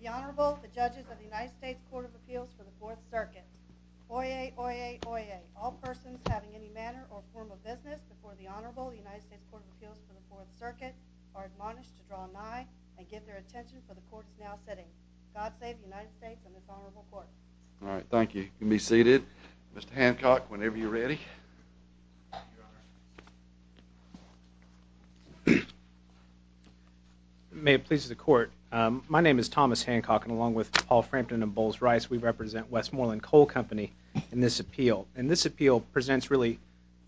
The Honorable, the judges of the United States Court of Appeals for the Fourth Circuit. Oyez, oyez, oyez. All persons having any manner or form of business before the Honorable, the United States Court of Appeals for the Fourth Circuit, are admonished to draw nigh and give their attention to the courts now sitting. God save the United States and this honorable court. All right, thank you. You can be seated. Mr. Hancock, whenever you're ready. May it please the court. My name is Thomas Hancock and along with Paul Frampton and Bowles Rice, we represent Westmoreland Coal Company in this appeal. And this appeal presents really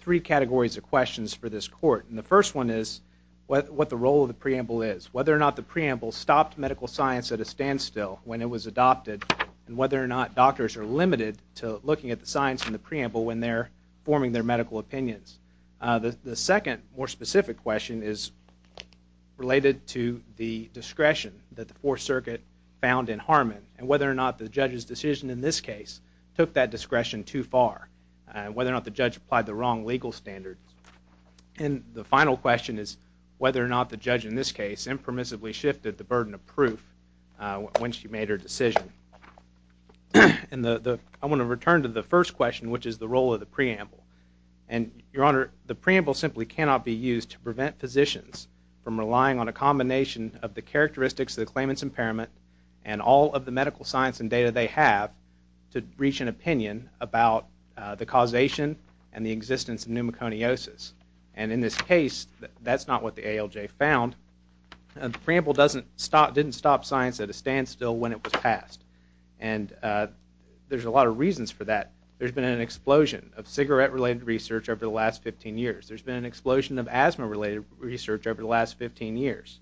three categories of questions for this court. And the first one is what the role of the preamble is. Whether or not the preamble stopped medical science at a standstill when it was adopted and whether or not doctors are limited to looking at the science in the preamble when they're forming their medical opinions. The second more specific question is related to the discretion that the Fourth Circuit found in Harmon and whether or not the judge's decision in this case took that discretion too far and whether or not the judge applied the wrong legal standards. And the final question is whether or not the judge in this case impermissibly shifted the burden of proof when she made her decision. I want to return to the first question, which is the role of the preamble. And your honor, the preamble simply cannot be used to prevent physicians from relying on a combination of the characteristics of the claimant's impairment and all of the medical science and data they have to reach an opinion about the causation and the existence of pneumoconiosis. And in this case, that's not what the ALJ found. The preamble didn't stop science at a standstill when it was passed. And there's a lot of reasons for that. There's been an explosion of cigarette-related research over the last 15 years. There's been an explosion of asthma-related research over the last 15 years.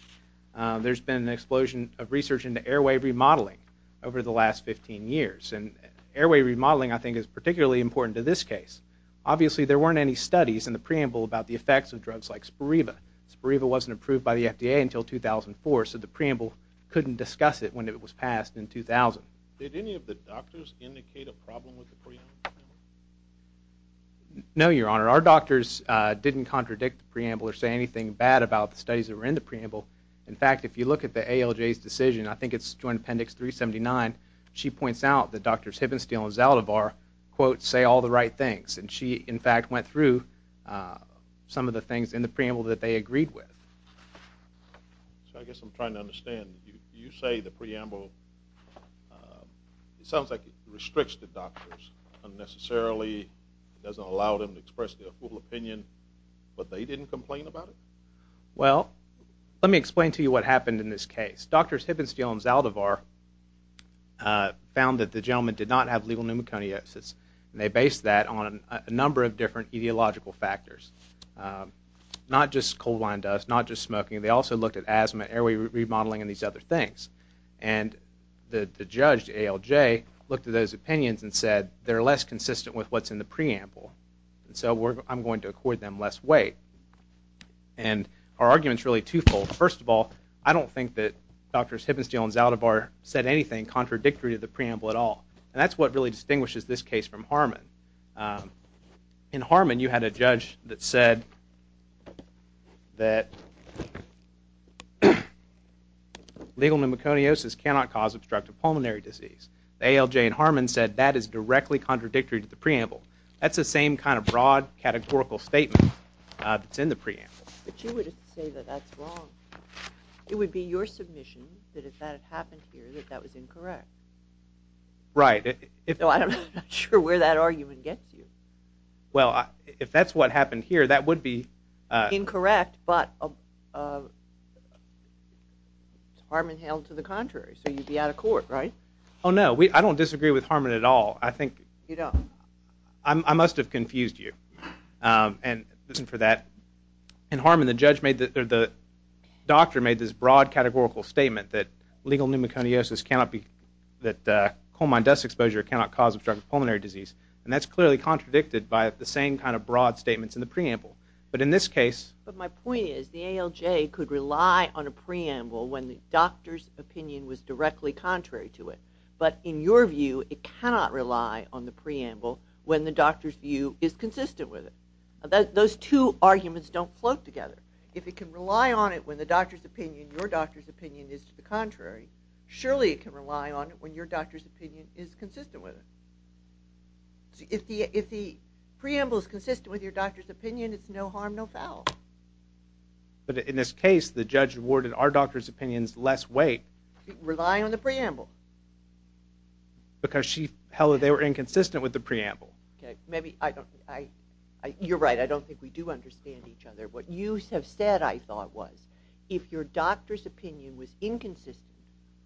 There's been an explosion of research into airway remodeling over the last 15 years. And airway remodeling, I think, is particularly important to this case. Obviously, there weren't any studies in the preamble about the effects of drugs like Spiriva. Spiriva wasn't approved by the FDA until 2004, so the preamble couldn't discuss it when it was passed in 2000. Did any of the doctors indicate a problem with the preamble? No, Your Honor. Our doctors didn't contradict the preamble or say anything bad about the studies that were in the preamble. In fact, if you look at the ALJ's decision, I think it's joint appendix 379, she points out that Drs. Hibbenstiel and Zaldivar, quote, say all the right things. And she, in fact, went through some of the things in the preamble that they agreed with. So I guess I'm trying to understand. You say the preamble, it sounds like it restricts the doctors unnecessarily, doesn't allow them to express their full opinion, but they didn't complain about it? Well, let me explain to you what happened in this case. Drs. Hibbenstiel and Zaldivar found that the gentleman did not have legal pneumoconiosis, and they based that on a number of different etiological factors, not just coal line dust, not just smoking. They also looked at asthma, airway remodeling, and these other things. And the judge, ALJ, looked at those opinions and said, they're less consistent with what's in the preamble, so I'm going to accord them less weight. And our argument is really twofold. First of all, I don't think that Drs. Hibbenstiel and Zaldivar said anything contradictory to the preamble at all. And that's what really distinguishes this case from Harmon. In Harmon, you had a judge that said that legal pneumoconiosis cannot cause obstructive pulmonary disease. ALJ and Harmon said that is directly contradictory to the preamble. That's the same kind of broad, categorical statement that's in the preamble. But you would say that that's wrong. It would be your submission that if that had happened here, that that was incorrect. Right. So I'm not sure where that argument gets you. Well, if that's what happened here, that would be... Incorrect, but Harmon hailed to the contrary, so you'd be out of court, right? Oh, no. I don't disagree with Harmon at all. I think... You don't? I must have confused you. And listen for that. In Harmon, the doctor made this broad, categorical statement that legal pneumoconiosis cannot be... that coal mine dust exposure cannot cause obstructive pulmonary disease. And that's clearly contradicted by the same kind of broad statements in the preamble. But in this case... But my point is the ALJ could rely on a preamble when the doctor's opinion was directly contrary to it. But in your view, it cannot rely on the preamble when the doctor's view is consistent with it. Those two arguments don't float together. If it can rely on it when the doctor's opinion, your doctor's opinion is to the contrary, surely it can rely on it when your doctor's opinion is consistent with it. If the preamble is consistent with your doctor's opinion, it's no harm, no foul. But in this case, the judge awarded our doctor's opinions less weight... Relying on the preamble. Because she held that they were inconsistent with the preamble. Okay. Maybe I don't... You're right. I don't think we do understand each other. What you have said, I thought, was if your doctor's opinion was inconsistent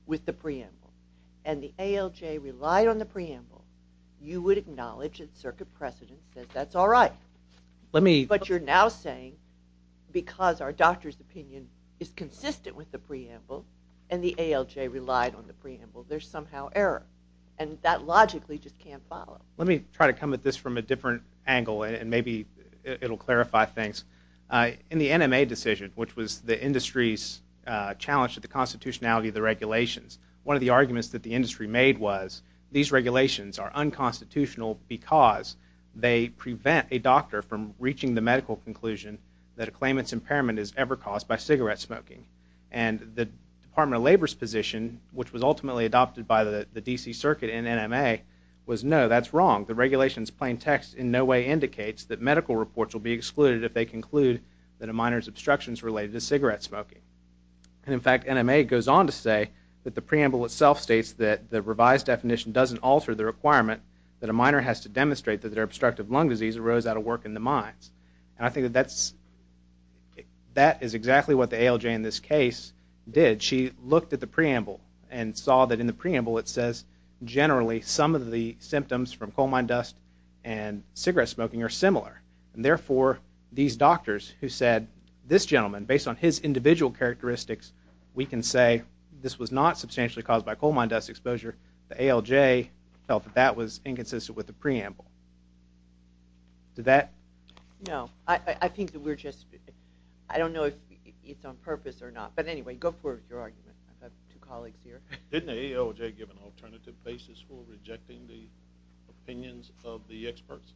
with the preamble and the ALJ relied on the preamble, you would acknowledge that circuit precedent says that's all right. Let me... But you're now saying because our doctor's opinion is consistent with the preamble and the ALJ relied on the preamble, there's somehow error. And that logically just can't follow. Let me try to come at this from a different angle and maybe it'll clarify things. In the NMA decision, which was the industry's challenge to the constitutionality of the regulations, one of the arguments that the industry made was these regulations are unconstitutional because they prevent a doctor from reaching the medical conclusion that a claimant's impairment is ever caused by cigarette smoking. And the Department of Labor's position, which was ultimately adopted by the D.C. Circuit and NMA, was no, that's wrong. The regulation's plain text in no way indicates that medical reports will be excluded if they conclude that a minor's obstruction is related to cigarette smoking. And in fact, NMA goes on to say that the preamble itself states that the revised definition doesn't alter the requirement that a minor has to demonstrate that their obstructive lung disease arose out of work in the mines. And I think that that is exactly what the ALJ in this case did. She looked at the preamble and saw that in the preamble it says generally some of the symptoms from coal mine dust and cigarette smoking are similar. And therefore, these doctors who said this gentleman, based on his individual characteristics, we can say this was not substantially caused by coal mine dust exposure, the ALJ felt that that was inconsistent with the preamble. Did that? No. I think that we're just, I don't know if it's on purpose or not. But anyway, go for your argument. I've got two colleagues here. Didn't the ALJ give an alternative basis for rejecting the opinions of the experts?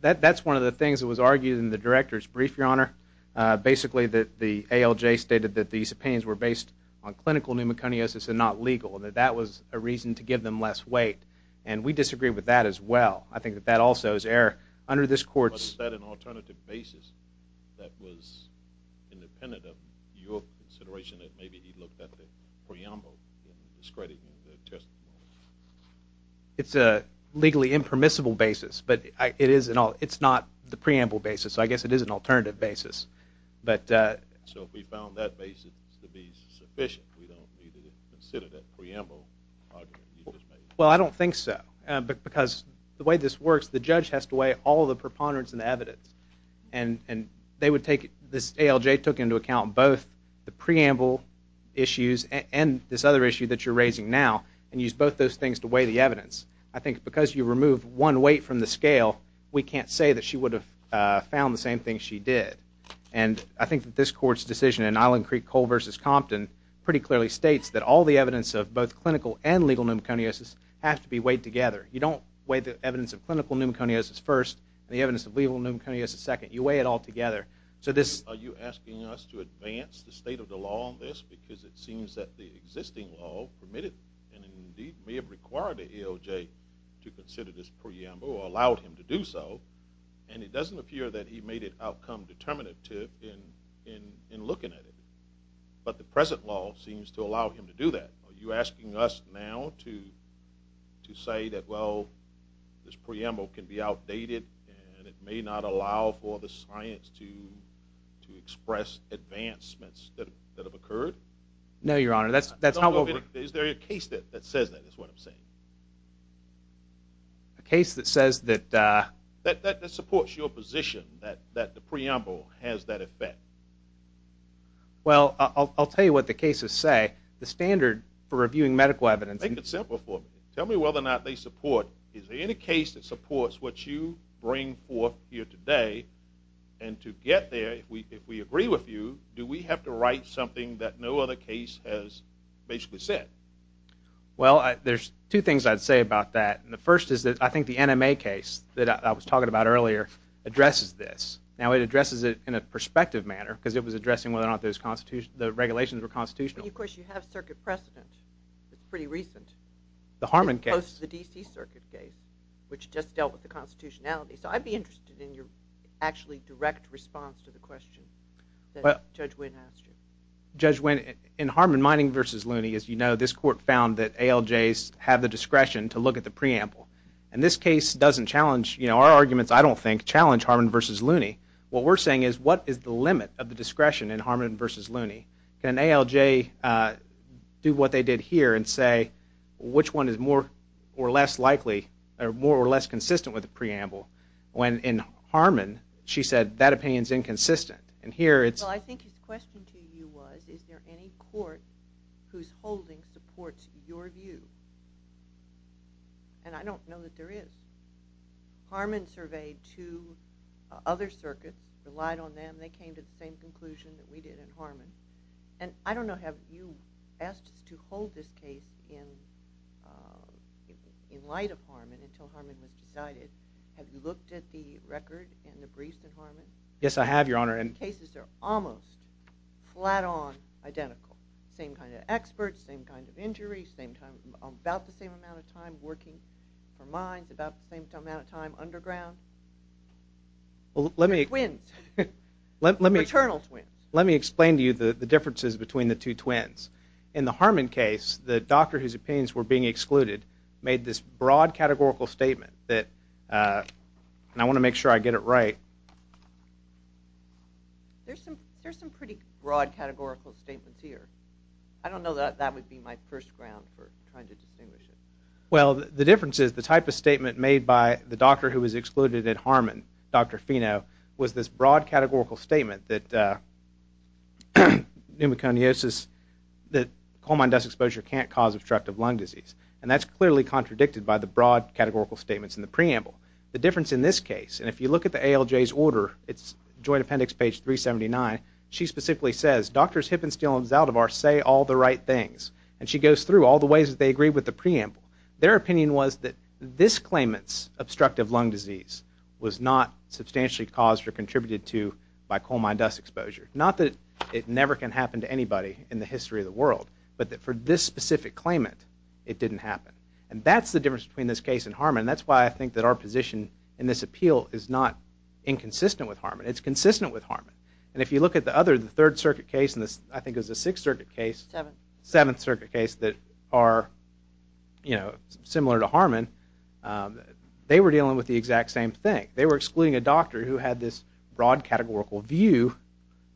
That's one of the things that was argued in the director's brief, Your Honor. Basically, the ALJ stated that these opinions were based on clinical pneumoconiosis and not legal, and that that was a reason to give them less weight. And we disagree with that as well. I think that that also is error. Under this court's- Your consideration that maybe he looked at the preamble and discredited the testimony. It's a legally impermissible basis, but it's not the preamble basis. I guess it is an alternative basis. So if we found that basis to be sufficient, we don't need to consider that preamble argument. Well, I don't think so, because the way this works, the judge has to weigh all the preponderance in the evidence, and this ALJ took into account both the preamble issues and this other issue that you're raising now and used both those things to weigh the evidence. I think because you remove one weight from the scale, we can't say that she would have found the same thing she did. And I think that this court's decision in Island Creek-Cole v. Compton pretty clearly states that all the evidence of both clinical and legal pneumoconiosis have to be weighed together. You don't weigh the evidence of clinical pneumoconiosis first and the evidence of legal pneumoconiosis second. You weigh it all together. Are you asking us to advance the state of the law on this? Because it seems that the existing law permitted and indeed may have required the ALJ to consider this preamble or allowed him to do so, and it doesn't appear that he made it outcome determinative in looking at it. But the present law seems to allow him to do that. Are you asking us now to say that, well, this preamble can be outdated and it may not allow for the science to express advancements that have occurred? No, Your Honor. Is there a case that says that is what I'm saying? A case that says that? That supports your position that the preamble has that effect. Well, I'll tell you what the cases say. The standard for reviewing medical evidence. Make it simple for me. Tell me whether or not they support. Is there any case that supports what you bring forth here today? And to get there, if we agree with you, do we have to write something that no other case has basically said? Well, there's two things I'd say about that. And the first is that I think the NMA case that I was talking about earlier addresses this. Now, it addresses it in a perspective manner because it was addressing whether or not the regulations were constitutional. I mean, of course, you have circuit precedent. It's pretty recent. The Harmon case. The DC circuit case, which just dealt with the constitutionality. So I'd be interested in your actually direct response to the question that Judge Winn asked you. Judge Winn, in Harmon-Mining v. Looney, as you know, this court found that ALJs have the discretion to look at the preamble. And this case doesn't challenge, you know, our arguments, I don't think, challenge Harmon v. Looney. What we're saying is what is the limit of the discretion in Harmon v. Looney? Can ALJ do what they did here and say which one is more or less likely or more or less consistent with the preamble? When in Harmon, she said that opinion is inconsistent. Well, I think his question to you was, is there any court whose holding supports your view? And I don't know that there is. Harmon surveyed two other circuits, relied on them. And they came to the same conclusion that we did in Harmon. And I don't know, have you asked us to hold this case in light of Harmon until Harmon was decided? Have you looked at the record and the briefs in Harmon? Yes, I have, Your Honor. And the cases are almost flat-on identical. Same kind of experts, same kind of injuries, about the same amount of time working for mines, about the same amount of time underground. Twins. Maternal twins. Let me explain to you the differences between the two twins. In the Harmon case, the doctor whose opinions were being excluded made this broad categorical statement that, and I want to make sure I get it right. There's some pretty broad categorical statements here. I don't know that that would be my first ground for trying to distinguish it. Well, the difference is the type of statement made by the doctor who was excluded at Harmon, Dr. Fino, was this broad categorical statement that pneumoconiosis, that coal mine dust exposure can't cause obstructive lung disease. And that's clearly contradicted by the broad categorical statements in the preamble. The difference in this case, and if you look at the ALJ's order, it's Joint Appendix, page 379, she specifically says, doctors Hippenstiel and Zaldivar say all the right things. And she goes through all the ways that they agree with the preamble. Their opinion was that this claimant's obstructive lung disease was not substantially caused or contributed to by coal mine dust exposure. Not that it never can happen to anybody in the history of the world, but that for this specific claimant, it didn't happen. And that's the difference between this case and Harmon. That's why I think that our position in this appeal is not inconsistent with Harmon. It's consistent with Harmon. And if you look at the other, the Third Circuit case, and I think it was the Sixth Circuit case, Seventh Circuit case that are, you know, similar to Harmon, they were dealing with the exact same thing. They were excluding a doctor who had this broad categorical view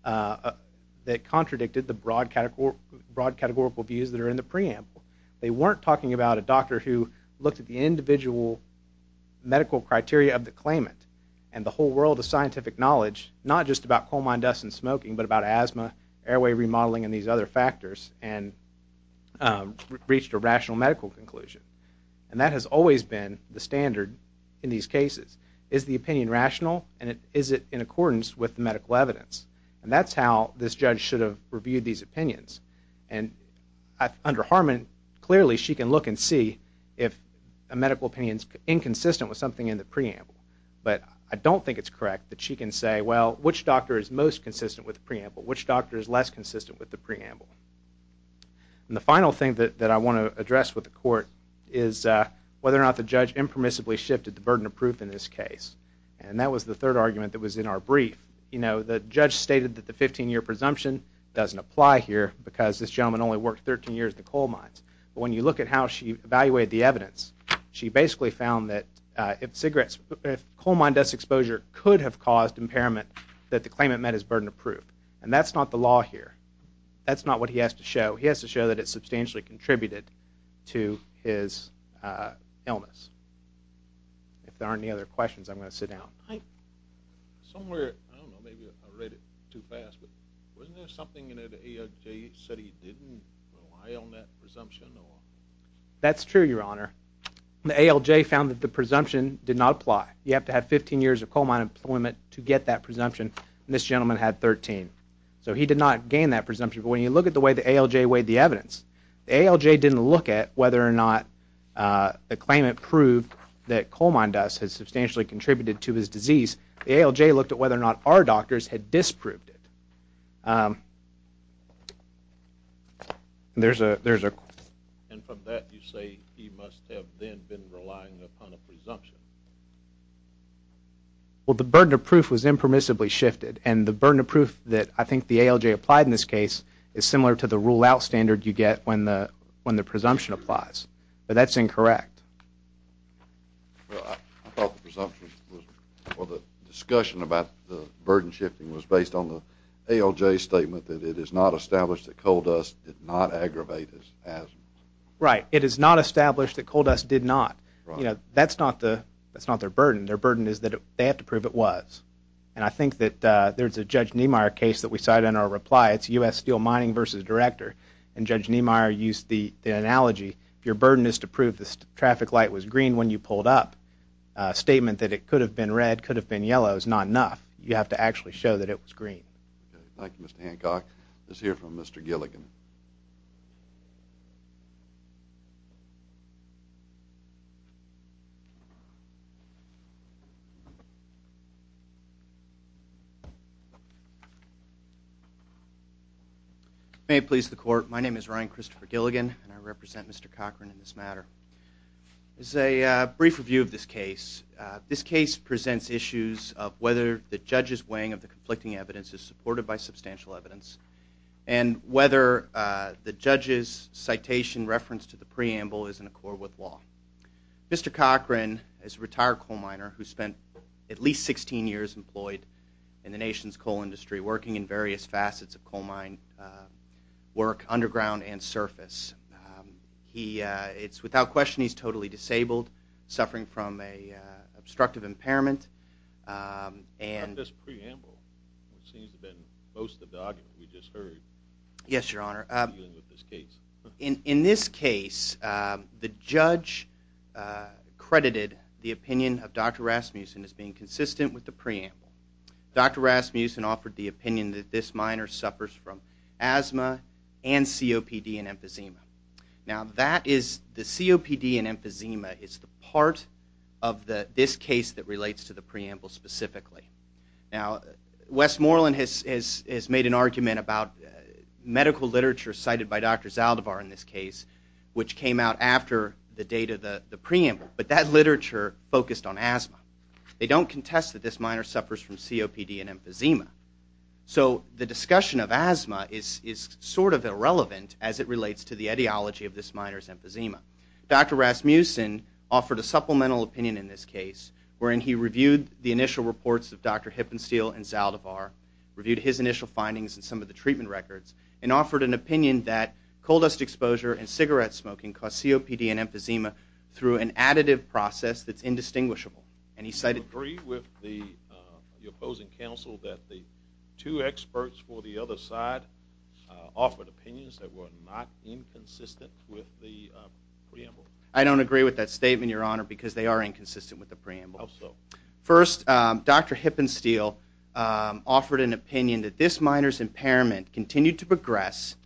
that contradicted the broad categorical views that are in the preamble. They weren't talking about a doctor who looked at the individual medical criteria of the claimant and the whole world of scientific knowledge, not just about coal mine dust and smoking, but about asthma, airway remodeling, and these other factors, and reached a rational medical conclusion. And that has always been the standard in these cases. Is the opinion rational, and is it in accordance with the medical evidence? And that's how this judge should have reviewed these opinions. And under Harmon, clearly she can look and see if a medical opinion is inconsistent with something in the preamble. But I don't think it's correct that she can say, well, which doctor is most consistent with the preamble? Which doctor is less consistent with the preamble? And the final thing that I want to address with the court is whether or not the judge impermissibly shifted the burden of proof in this case. And that was the third argument that was in our brief. You know, the judge stated that the 15-year presumption doesn't apply here because this gentleman only worked 13 years at the coal mines. But when you look at how she evaluated the evidence, she basically found that if coal mine dust exposure could have caused impairment, that the claimant met his burden of proof. And that's not the law here. That's not what he has to show. He has to show that it substantially contributed to his illness. If there aren't any other questions, I'm going to sit down. Somewhere, I don't know, maybe I read it too fast, but wasn't there something in it that he said he didn't rely on that presumption? That's true, Your Honor. The ALJ found that the presumption did not apply. You have to have 15 years of coal mine employment to get that presumption. And this gentleman had 13. So he did not gain that presumption. But when you look at the way the ALJ weighed the evidence, the ALJ didn't look at whether or not the claimant proved that coal mine dust had substantially contributed to his disease. The ALJ looked at whether or not our doctors had disproved it. There's a question. And from that, you say he must have then been relying upon a presumption. Well, the burden of proof was impermissibly shifted. And the burden of proof that I think the ALJ applied in this case is similar to the rule-out standard you get when the presumption applies. But that's incorrect. Well, I thought the presumption was, Well, the discussion about the burden shifting was based on the ALJ's statement that it is not established that coal dust did not aggravate his asthma. Right. It is not established that coal dust did not. That's not their burden. Their burden is that they have to prove it was. And I think that there's a Judge Niemeyer case that we cite in our reply. It's U.S. Steel Mining v. Director. And Judge Niemeyer used the analogy, if your burden is to prove the traffic light was green when you pulled up, a statement that it could have been red, could have been yellow, is not enough. You have to actually show that it was green. Thank you, Mr. Hancock. Let's hear from Mr. Gilligan. May it please the Court, my name is Ryan Christopher Gilligan, and I represent Mr. Cochran in this matter. This is a brief review of this case. This case presents issues of whether the Judge's weighing of the conflicting evidence is supported by substantial evidence, and whether the Judge's citation reference to the preamble is in accord with law. Mr. Cochran is a retired coal miner who spent at least 16 years employed in the nation's coal industry, working in various facets of coal mine work underground and surface. It's without question he's totally disabled, suffering from an obstructive impairment. In this preamble, it seems to have been most of the argument we just heard. Yes, Your Honor. In this case, the Judge credited the opinion of Dr. Rasmussen as being consistent with the preamble. Dr. Rasmussen offered the opinion that this miner suffers from asthma and COPD and emphysema. Now, the COPD and emphysema is the part of this case that relates to the preamble specifically. Now, Westmoreland has made an argument about medical literature cited by Dr. Zaldivar in this case, which came out after the date of the preamble, but that literature focused on asthma. They don't contest that this miner suffers from COPD and emphysema. So the discussion of asthma is sort of irrelevant as it relates to the ideology of this miner's emphysema. Dr. Rasmussen offered a supplemental opinion in this case, wherein he reviewed the initial reports of Dr. Hippensteel and Zaldivar, reviewed his initial findings and some of the treatment records, and offered an opinion that coal dust exposure and cigarette smoking cause COPD and emphysema through an additive process that's indistinguishable. Do you agree with the opposing counsel that the two experts for the other side offered opinions that were not inconsistent with the preamble? I don't agree with that statement, Your Honor, because they are inconsistent with the preamble. How so? First, Dr. Hippensteel offered an opinion that this miner's impairment continued to progress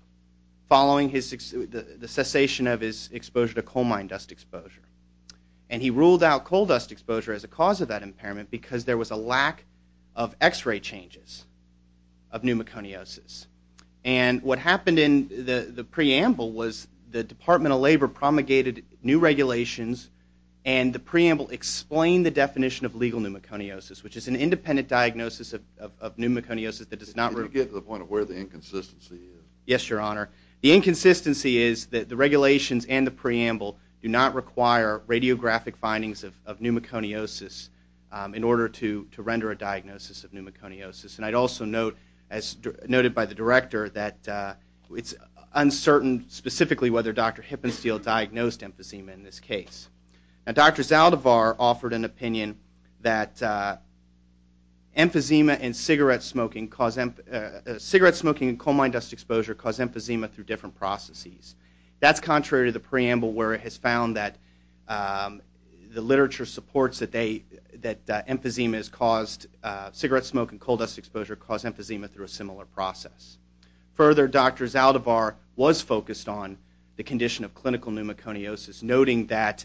following the cessation of his exposure to coal mine dust exposure. And he ruled out coal dust exposure as a cause of that impairment because there was a lack of X-ray changes of pneumoconiosis. And what happened in the preamble was the Department of Labor promulgated new regulations and the preamble explained the definition of legal pneumoconiosis, which is an independent diagnosis of pneumoconiosis that does not... Can you get to the point of where the inconsistency is? Yes, Your Honor. The inconsistency is that the regulations and the preamble do not require radiographic findings of pneumoconiosis in order to render a diagnosis of pneumoconiosis. And I'd also note, as noted by the director, that it's uncertain specifically whether Dr. Hippensteel diagnosed emphysema in this case. Now, Dr. Zaldivar offered an opinion that emphysema and cigarette smoking cause... cigarette smoking and coal mine dust exposure cause emphysema through different processes. That's contrary to the preamble where it has found that the literature supports that they... that emphysema is caused... cigarette smoke and coal dust exposure cause emphysema through a similar process. Further, Dr. Zaldivar was focused on the condition of clinical pneumoconiosis, noting that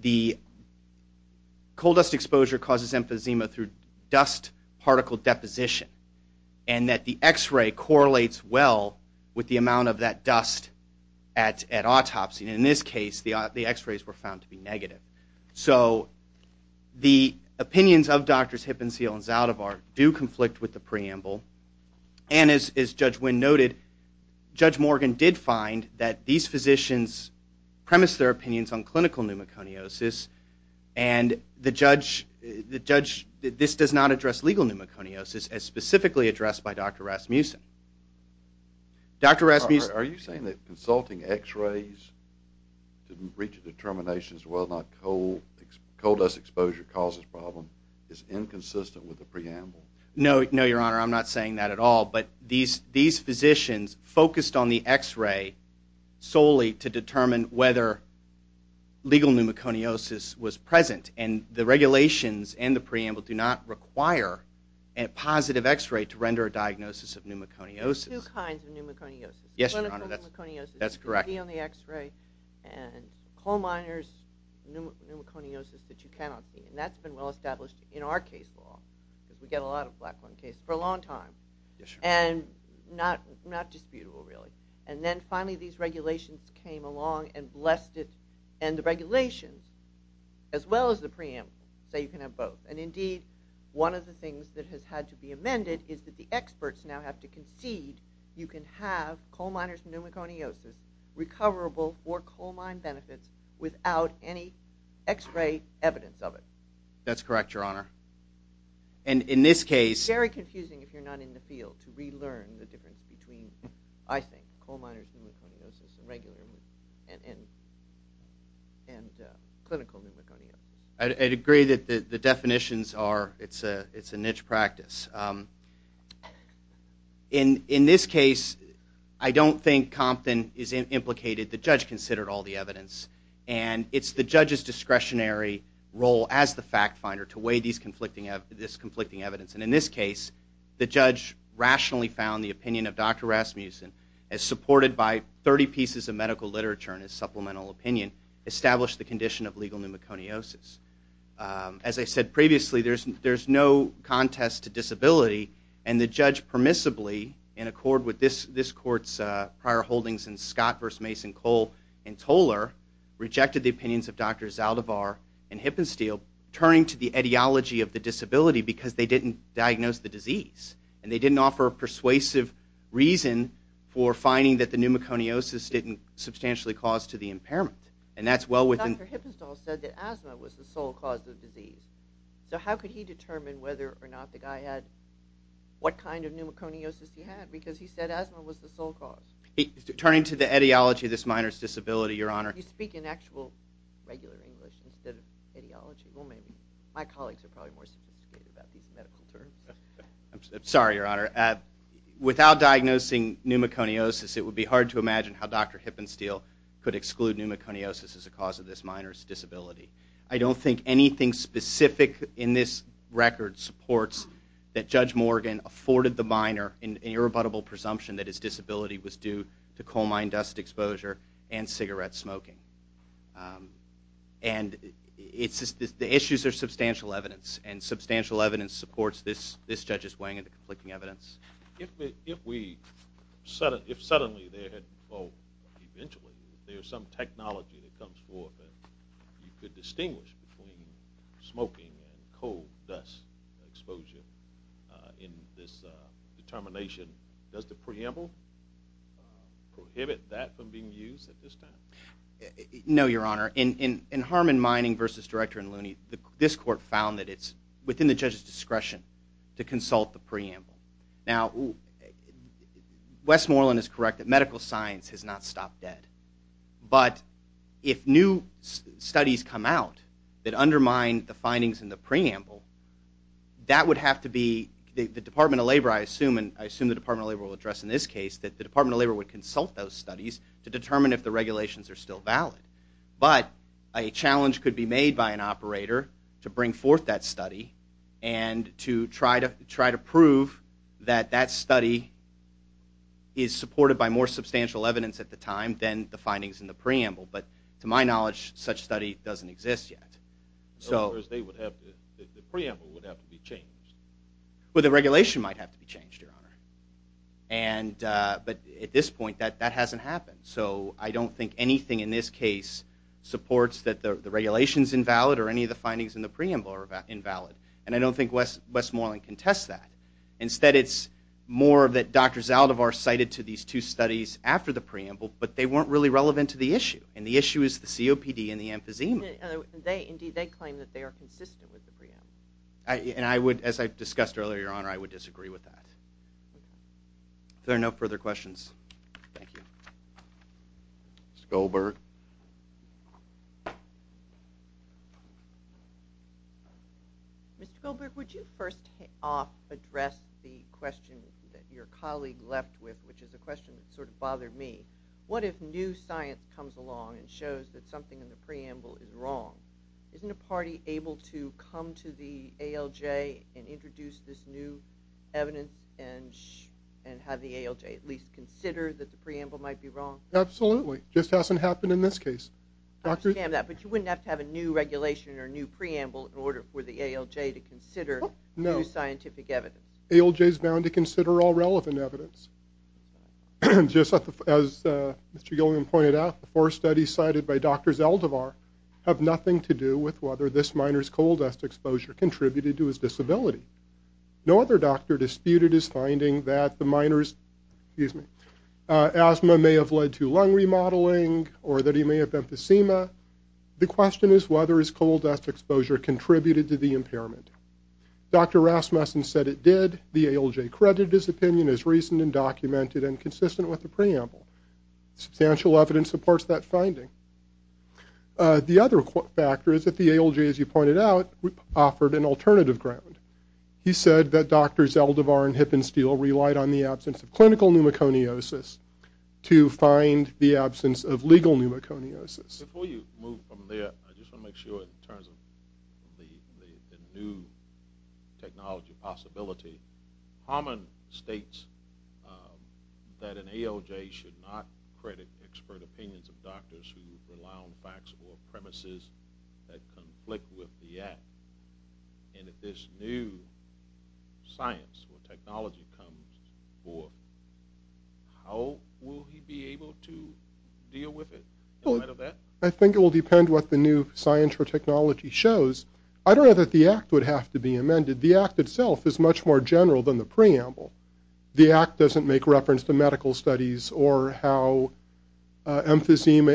the coal dust exposure causes emphysema through dust particle deposition and that the X-ray correlates well with the amount of that dust at autopsy. And in this case, the X-rays were found to be negative. So the opinions of Drs. Hippensteel and Zaldivar do conflict with the preamble. And as Judge Wynn noted, Judge Morgan did find that these physicians premised their opinions on clinical pneumoconiosis and the judge... this does not address legal pneumoconiosis as specifically addressed by Dr. Rasmussen. Dr. Rasmussen... Are you saying that consulting X-rays to reach a determination as to whether or not coal dust exposure causes problem is inconsistent with the preamble? No, Your Honor, I'm not saying that at all, but these physicians focused on the X-ray solely to determine whether legal pneumoconiosis was present and the regulations and the preamble do not require a positive X-ray to render a diagnosis of pneumoconiosis. There's two kinds of pneumoconiosis. Yes, Your Honor, that's correct. One is the pneumoconiosis you can see on the X-ray and coal miners' pneumoconiosis that you cannot see. And that's been well established in our case law because we get a lot of Blackburn cases for a long time. Yes, Your Honor. And not disputable, really. And then finally these regulations came along and blessed it and the regulations as well as the preamble say you can have both. And indeed, one of the things that has had to be amended is that the experts now have to concede you can have coal miners' pneumoconiosis recoverable for coal mine benefits without any X-ray evidence of it. That's correct, Your Honor. And in this case... Very confusing if you're not in the field to relearn the difference between, I think, coal miners' pneumoconiosis and regular pneumoconiosis and clinical pneumoconiosis. I'd agree that the definitions are... In this case, I don't think Compton is implicated. The judge considered all the evidence. And it's the judge's discretionary role as the fact finder to weigh this conflicting evidence. And in this case, the judge rationally found the opinion of Dr. Rasmussen as supported by 30 pieces of medical literature and his supplemental opinion established the condition of legal pneumoconiosis. As I said previously, there's no contest to disability, and the judge permissibly, in accord with this court's prior holdings in Scott v. Mason, Cole, and Toller, rejected the opinions of Drs. Zaldivar and Hippenstiel, turning to the ideology of the disability because they didn't diagnose the disease. And they didn't offer a persuasive reason for finding that the pneumoconiosis didn't substantially cause to the impairment. And that's well within... Dr. Hippenstiel said that asthma was the sole cause of the disease. So how could he determine whether or not the guy had... what kind of pneumoconiosis he had? Because he said asthma was the sole cause. Turning to the ideology of this minor's disability, Your Honor... You speak in actual, regular English instead of ideology. Well, maybe. My colleagues are probably more sophisticated about these medical terms. I'm sorry, Your Honor. Without diagnosing pneumoconiosis, it would be hard to imagine how Dr. Hippenstiel could exclude pneumoconiosis as a cause of this minor's disability. I don't think anything specific in this record supports that Judge Morgan afforded the minor an irrebuttable presumption that his disability was due to coal mine dust exposure and cigarette smoking. And the issues are substantial evidence, and substantial evidence supports this judge's weighing into conflicting evidence. If we... if suddenly there had... well, eventually, if there's some technology that comes forth that you could distinguish between smoking and coal dust exposure in this determination, does the preamble prohibit that from being used at this time? No, Your Honor. In Harmon Mining v. Director and Looney, this court found that it's within the judge's discretion to consult the preamble. Now, Westmoreland is correct that medical science has not stopped dead. But if new studies come out that undermine the findings in the preamble, that would have to be... the Department of Labor, I assume, and I assume the Department of Labor will address in this case, that the Department of Labor would consult those studies to determine if the regulations are still valid. But a challenge could be made by an operator to bring forth that study and to try to prove that that study is supported by more substantial evidence at the time than the findings in the preamble. But to my knowledge, such study doesn't exist yet. In other words, the preamble would have to be changed. Well, the regulation might have to be changed, Your Honor. But at this point, that hasn't happened. So I don't think anything in this case supports that the regulation's invalid or any of the findings in the preamble are invalid. And I don't think Westmoreland can test that. Instead, it's more that Dr. Zaldivar cited to these two studies after the preamble, but they weren't really relevant to the issue. And the issue is the COPD and the emphysema. Indeed, they claim that they are consistent with the preamble. And I would, as I discussed earlier, Your Honor, I would disagree with that. If there are no further questions. Thank you. Mr. Goldberg. Mr. Goldberg, would you first off address the question that your colleague left with, which is a question that sort of bothered me. What if new science comes along and shows that something in the preamble is wrong? Isn't a party able to come to the ALJ and introduce this new evidence and have the ALJ at least consider that the preamble might be wrong? Absolutely. It just hasn't happened in this case. I understand that, but you wouldn't have to have a new regulation or a new preamble in order for the ALJ to consider new scientific evidence. ALJ is bound to consider all relevant evidence. Just as Mr. Gilliam pointed out, the four studies cited by Dr. Zaldivar have nothing to do with whether this minor's coal dust exposure contributed to his disability. No other doctor disputed his finding that the minor's asthma may have led to lung remodeling or that he may have emphysema. The question is whether his coal dust exposure contributed to the impairment. Dr. Rasmussen said it did. The ALJ credited his opinion as reasoned and documented and consistent with the preamble. Substantial evidence supports that finding. The other factor is that the ALJ, as you pointed out, offered an alternative ground. He said that Dr. Zaldivar and Hippensteel relied on the absence of clinical pneumoconiosis to find the absence of legal pneumoconiosis. Before you move from there, I just want to make sure in terms of the new technology possibility, Harmon states that an ALJ should not credit expert opinions of doctors who rely on facts or premises that conflict with the act. And if this new science or technology comes forth, how will he be able to deal with it? I think it will depend what the new science or technology shows. I don't know that the act would have to be amended. The act itself is much more general than the preamble. The act doesn't make reference to medical studies or how smoking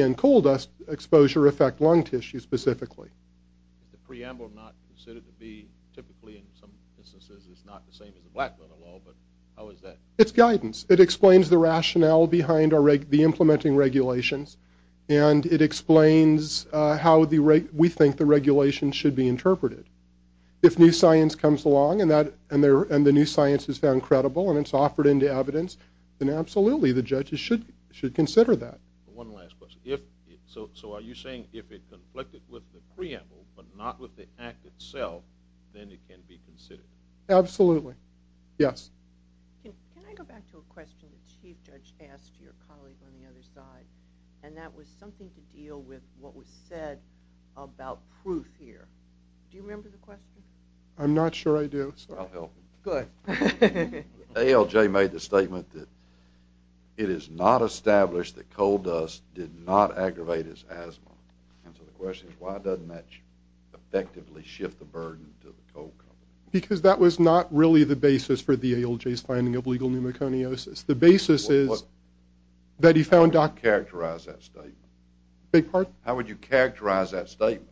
and coal dust exposure affect lung tissue specifically. The preamble not considered to be typically in some instances is not the same as the Black Metal Law, but how is that? It's guidance. It explains the rationale behind the implementing regulations, and it explains how we think the regulations should be interpreted. If new science comes along and the new science is found credible and it's offered into evidence, then absolutely the judges should consider that. One last question. So are you saying if it conflicted with the preamble but not with the act itself, then it can be considered? Absolutely. Yes. Can I go back to a question the Chief Judge asked your colleague on the other side? And that was something to deal with what was said about proof here. Do you remember the question? I'm not sure I do. I'll help him. Good. ALJ made the statement that it is not established that coal dust did not aggravate his asthma. And so the question is, why doesn't that effectively shift the burden to the coal company? Because that was not really the basis for the ALJ's finding of legal pneumoconiosis. The basis is that he found Dr. How would you characterize that statement? Beg your pardon? How would you characterize that statement?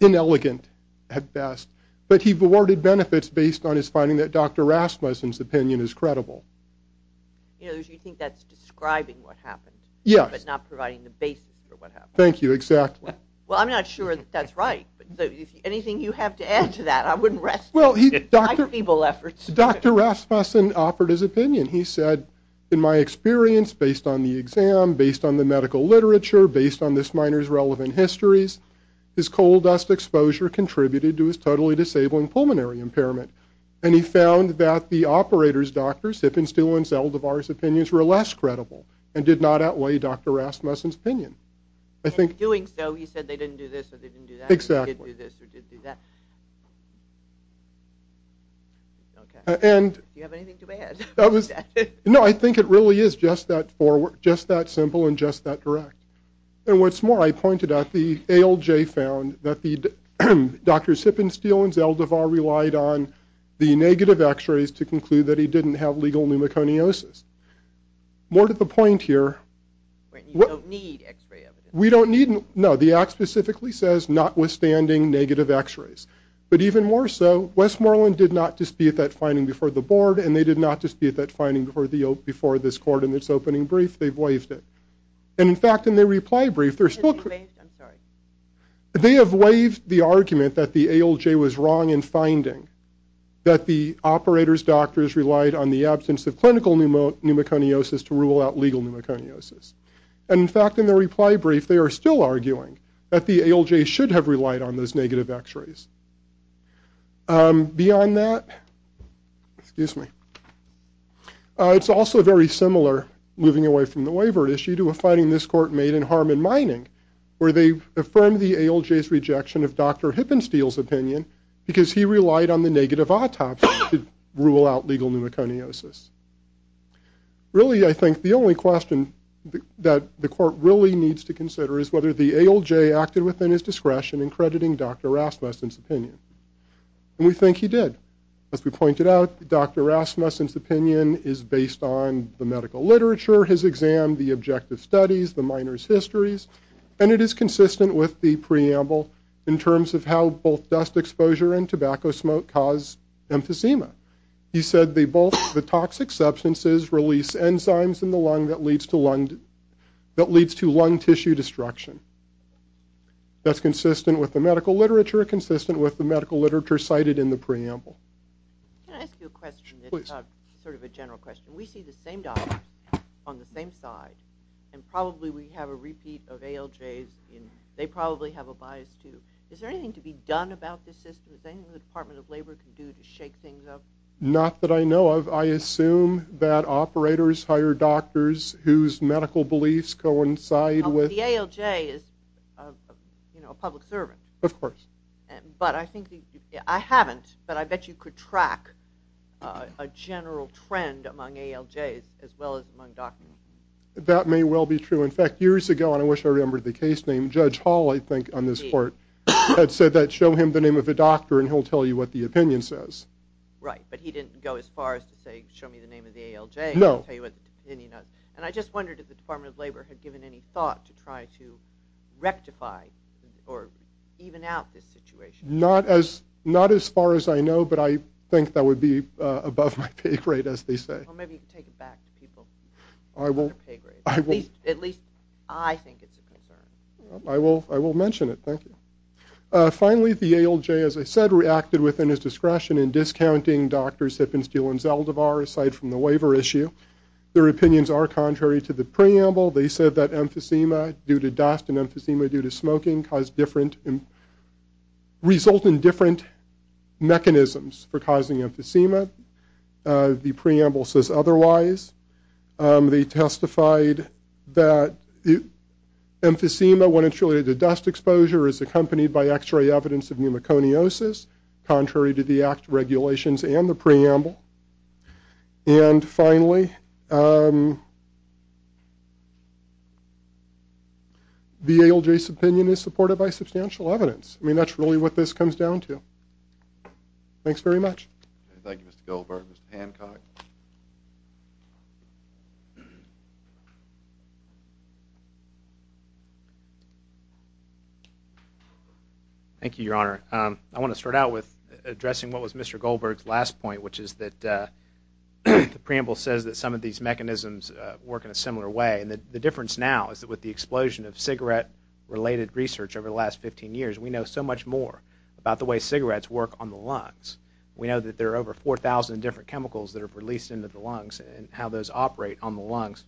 Inelegant at best. But he awarded benefits based on his finding that Dr. Rasmussen's opinion is credible. You think that's describing what happened. Yes. But not providing the basis for what happened. Thank you. Exactly. Well, I'm not sure that that's right. Anything you have to add to that? I wouldn't rest my feeble efforts. Dr. Rasmussen offered his opinion. He said, in my experience, based on the exam, based on the medical literature, based on this minor's relevant histories, his coal dust exposure contributed to his totally disabling pulmonary impairment. And he found that the operators, Dr. Sippen, Steele, and Zeldovar's opinions were less credible and did not outweigh Dr. Rasmussen's opinion. In doing so, he said they didn't do this or they didn't do that. Exactly. Or did do this or did do that. Okay. Do you have anything to add to that? No, I think it really is just that simple and just that direct. And what's more, I pointed out the ALJ found that Dr. Sippen, Steele, and Zeldovar relied on the negative x-rays to conclude that he didn't have legal pneumoconiosis. More to the point here. You don't need x-ray evidence. No, the act specifically says notwithstanding negative x-rays. But even more so, Westmoreland did not dispute that finding before the board and they did not dispute that finding before this court in its opening brief. They've waived it. And in fact, in their reply brief, they're still... I'm sorry. They have waived the argument that the ALJ was wrong in finding that the operator's doctors relied on the absence of clinical pneumoconiosis to rule out legal pneumoconiosis. And in fact, in their reply brief, they are still arguing that the ALJ should have relied on those negative x-rays. Beyond that... Excuse me. It's also very similar, moving away from the waiver issue, to a finding this court made in Harmon Mining where they affirmed the ALJ's rejection of Dr. Hippensteele's opinion because he relied on the negative autopsy to rule out legal pneumoconiosis. Really, I think the only question that the court really needs to consider is whether the ALJ acted within his discretion in crediting Dr. Rasmussen's opinion. And we think he did. As we pointed out, Dr. Rasmussen's opinion is based on the medical literature, his exam, the objective studies, the miners' histories, and it is consistent with the preamble in terms of how both dust exposure and tobacco smoke cause emphysema. He said both the toxic substances release enzymes in the lung that leads to lung tissue destruction. That's consistent with the medical literature, consistent with the medical literature cited in the preamble. Can I ask you a question? Please. It's sort of a general question. We see the same doctor on the same side, and probably we have a repeat of ALJ's, and they probably have a bias too. Is there anything to be done about this system? Is there anything the Department of Labor can do to shake things up? Not that I know of. I assume that operators hire doctors whose medical beliefs coincide with... The ALJ is a public servant. Of course. I haven't, but I bet you could track a general trend among ALJs as well as among doctors. That may well be true. In fact, years ago, and I wish I remembered the case name, Judge Hall, I think, on this court, had said that show him the name of a doctor and he'll tell you what the opinion says. Right, but he didn't go as far as to say, show me the name of the ALJ and he'll tell you what the opinion is. And I just wondered if the Department of Labor had given any thought to try to rectify or even out this situation. Not as far as I know, but I think that would be above my pay grade, as they say. Well, maybe you can take it back to people. At least I think it's a concern. I will mention it. Thank you. Finally, the ALJ, as I said, has reacted within his discretion in discounting Dr. Sippen, Steele, and Zeldovar aside from the waiver issue. Their opinions are contrary to the preamble. They said that emphysema due to dust and emphysema due to smoking result in different mechanisms for causing emphysema. The preamble says otherwise. They testified that emphysema, when it's related to dust exposure, is accompanied by x-ray evidence of pneumoconiosis, contrary to the Act regulations and the preamble. And finally, the ALJ's opinion is supported by substantial evidence. I mean, that's really what this comes down to. Thanks very much. Thank you, Mr. Zeldovar. Mr. Hancock. Thank you, Your Honor. I want to start out with addressing what was Mr. Goldberg's last point, which is that the preamble says that some of these mechanisms work in a similar way. And the difference now is that with the explosion of cigarette-related research over the last 15 years, we know so much more about the way cigarettes work on the lungs. We know that there are over 4,000 different chemicals that are released into the lungs and how those operate on the lungs.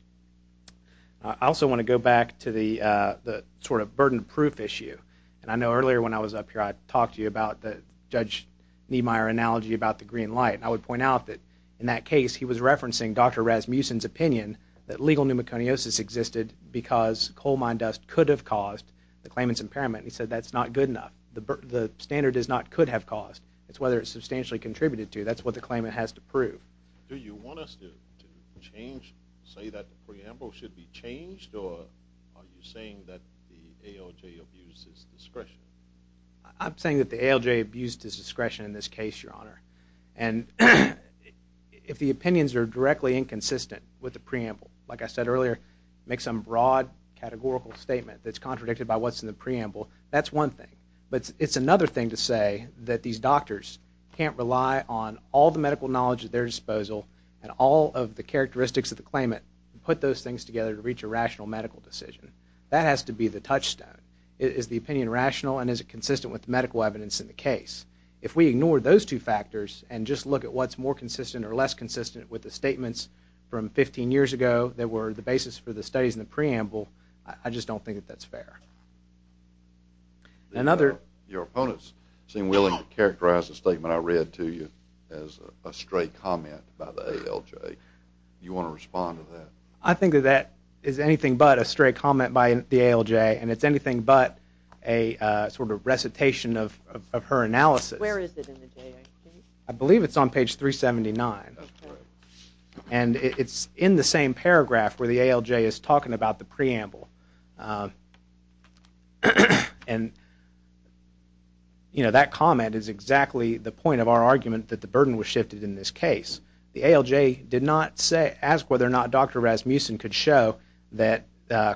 I also want to go back to the sort of burden-proof issue. And I know earlier when I was up here, I talked to you about the Judge Niemeyer analogy about the green light. And I would point out that in that case, he was referencing Dr. Rasmussen's opinion that legal pneumoconiosis existed because coal mine dust could have caused the claimant's impairment. He said that's not good enough. The standard is not could have caused. It's whether it substantially contributed to. That's what the claimant has to prove. Do you want us to change, say that the preamble should be changed, or are you saying that the ALJ abuses discretion? I'm saying that the ALJ abuses discretion in this case, Your Honor. And if the opinions are directly inconsistent with the preamble, like I said earlier, make some broad categorical statement that's contradicted by what's in the preamble, that's one thing. But it's another thing to say that these doctors can't rely on all the medical knowledge at their disposal and all of the characteristics of the claimant to put those things together to reach a rational medical decision. That has to be the touchstone. Is the opinion rational and is it consistent with the medical evidence in the case? If we ignore those two factors and just look at what's more consistent or less consistent with the statements from 15 years ago that were the basis for the studies in the preamble, I just don't think that that's fair. Another... Your opponents seem willing to characterize the statement I read to you as a stray comment by the ALJ. Do you want to respond to that? I think that that is anything but a stray comment by the ALJ and it's anything but a sort of recitation of her analysis. Where is it in the JIC? I believe it's on page 379. That's correct. And it's in the same paragraph where the ALJ is talking about the preamble. And, you know, that comment is exactly the point of our argument that the burden was shifted in this case. The ALJ did not ask whether or not Dr. Rasmussen could show that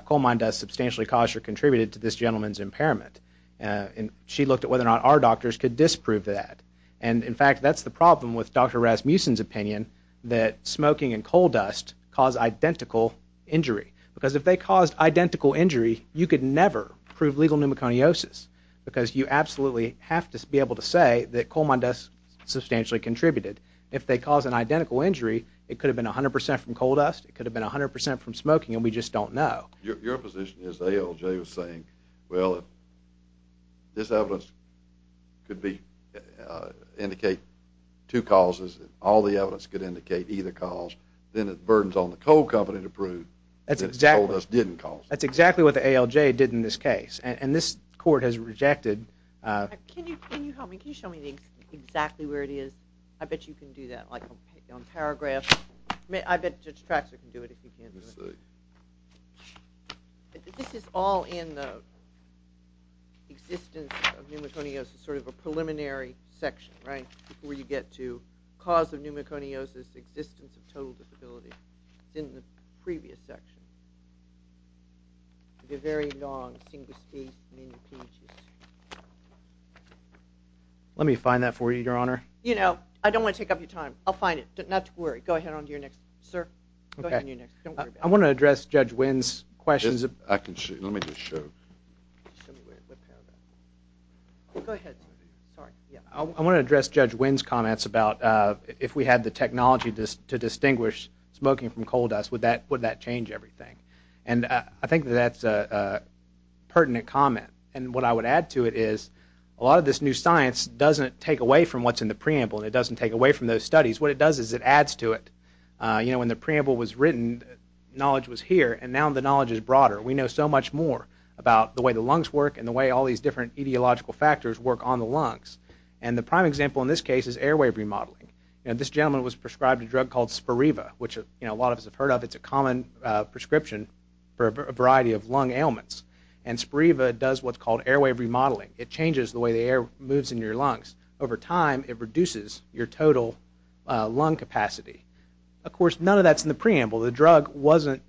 coal mine dust substantially caused or contributed to this gentleman's impairment. And she looked at whether or not our doctors could disprove that. And, in fact, that's the problem with Dr. Rasmussen's opinion that smoking and coal dust cause identical injury. Because if they caused identical injury, you could never prove legal pneumoconiosis. Because you absolutely have to be able to say that coal mine dust substantially contributed. If they caused an identical injury, it could have been 100% from coal dust, it could have been 100% from smoking, and we just don't know. Your position is the ALJ was saying, well, if this evidence could indicate two causes, all the evidence could indicate either cause, then the burden's on the coal company to prove that coal dust didn't cause it. That's exactly what the ALJ did in this case. And this court has rejected... Can you help me? Can you show me exactly where it is? I bet you can do that on paragraph. I bet Judge Traxler can do it if he can. Let me see. This is all in the existence of pneumoconiosis, sort of a preliminary section, right, where you get to cause of pneumoconiosis, existence of total disability. It's in the previous section. It's a very long, single-stage pneumoconiosis. Let me find that for you, Your Honor. You know, I don't want to take up your time. I'll find it. Not to worry. Go ahead on to your next, sir. Go ahead on your next. I want to address Judge Winn's questions. I can show you. Let me just show you. Go ahead. I want to address Judge Winn's comments about if we had the technology to distinguish smoking from coal dust, would that change everything? And I think that that's a pertinent comment. And what I would add to it is a lot of this new science doesn't take away from what's in the preamble, and it doesn't take away from those studies. What it does is it adds to it. You know, when the preamble was written, knowledge was here, and now the knowledge is broader. We know so much more about the way the lungs work and the way all these different etiological factors work on the lungs. And the prime example in this case is airway remodeling. This gentleman was prescribed a drug called Spiriva, which a lot of us have heard of. It's a common prescription for a variety of lung ailments. And Spiriva does what's called airway remodeling. It changes the way the air moves in your lungs. Over time, it reduces your total lung capacity. Of course, none of that's in the preamble. The drug wasn't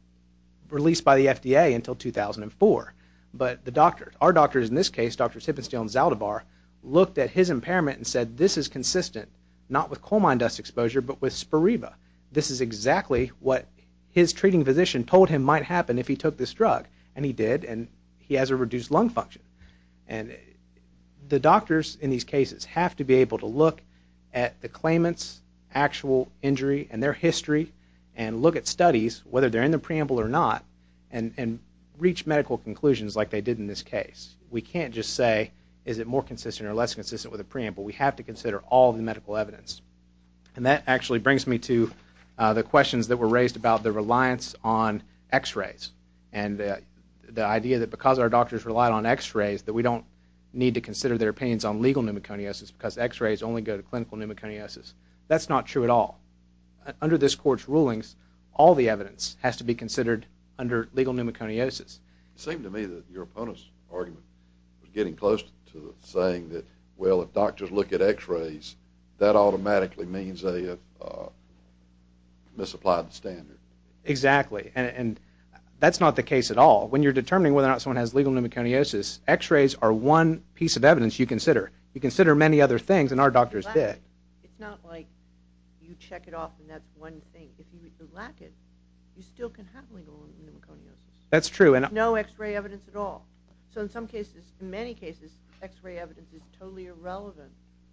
released by the FDA until 2004. But the doctors, our doctors in this case, Drs. Hippenstiel and Zaldivar, looked at his impairment and said, this is consistent not with coal mine dust exposure but with Spiriva. This is exactly what his treating physician told him might happen if he took this drug, and he did, and he has a reduced lung function. And the doctors in these cases have to be able to look at the claimant's actual injury and their history and look at studies, whether they're in the preamble or not, and reach medical conclusions like they did in this case. We can't just say, is it more consistent or less consistent with the preamble? We have to consider all the medical evidence. And that actually brings me to the questions that were raised about the reliance on x-rays and the idea that because our doctors relied on x-rays that we don't need to consider their opinions on legal pneumoconiosis because x-rays only go to clinical pneumoconiosis. That's not true at all. Under this Court's rulings, all the evidence has to be considered under legal pneumoconiosis. It seemed to me that your opponent's argument was getting close to saying that, well, if doctors look at x-rays, that automatically means they have misapplied the standard. Exactly, and that's not the case at all. When you're determining whether or not someone has legal pneumoconiosis, x-rays are one piece of evidence you consider. You consider many other things, and our doctors did. It's not like you check it off and that's one thing. If you lack it, you still can have legal pneumoconiosis. That's true. No x-ray evidence at all. So in some cases, in many cases, x-ray evidence is totally irrelevant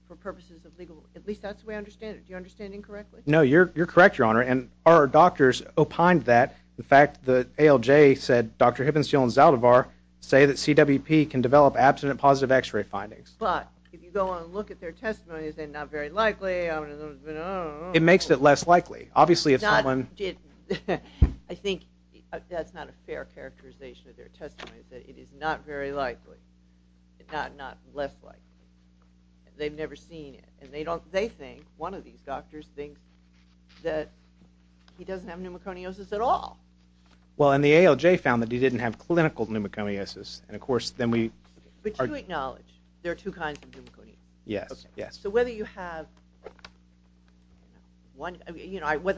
for purposes of legal, at least that's the way I understand it. Do you understand incorrectly? No, you're correct, Your Honor, and our doctors opined that. In fact, the ALJ said Dr. Hibbenstiel and Zaldivar say that CWP can develop abstinent positive x-ray findings. But if you go on and look at their testimonies, they're not very likely. I don't know. It makes it less likely. I think that's not a fair characterization of their testimony that it is not very likely, not less likely. They've never seen it, and they think, one of these doctors thinks, that he doesn't have pneumoconiosis at all. Well, and the ALJ found that he didn't have clinical pneumoconiosis. But you acknowledge there are two kinds of pneumoconiosis? Yes. So whether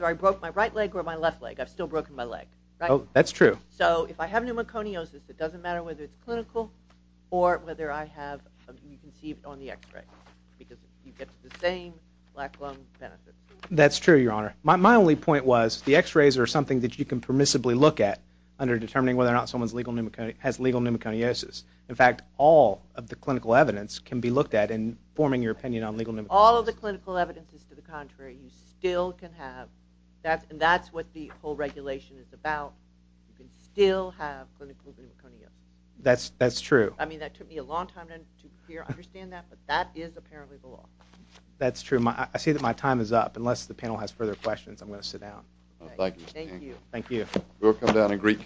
I broke my right leg or my left leg, I've still broken my leg, right? That's true. So if I have pneumoconiosis, it doesn't matter whether it's clinical or whether I have, you can see it on the x-ray, because you get the same black lung benefit. That's true, Your Honor. My only point was the x-rays are something that you can permissibly look at under determining whether or not someone has legal pneumoconiosis. In fact, all of the clinical evidence can be looked at in forming your opinion on legal pneumoconiosis. All of the clinical evidence is to the contrary. You still can have, and that's what the whole regulation is about. You can still have clinical pneumoconiosis. That's true. I mean, that took me a long time to understand that, but that is apparently the law. That's true. I see that my time is up. Unless the panel has further questions, I'm going to sit down. Thank you. Thank you. Thank you.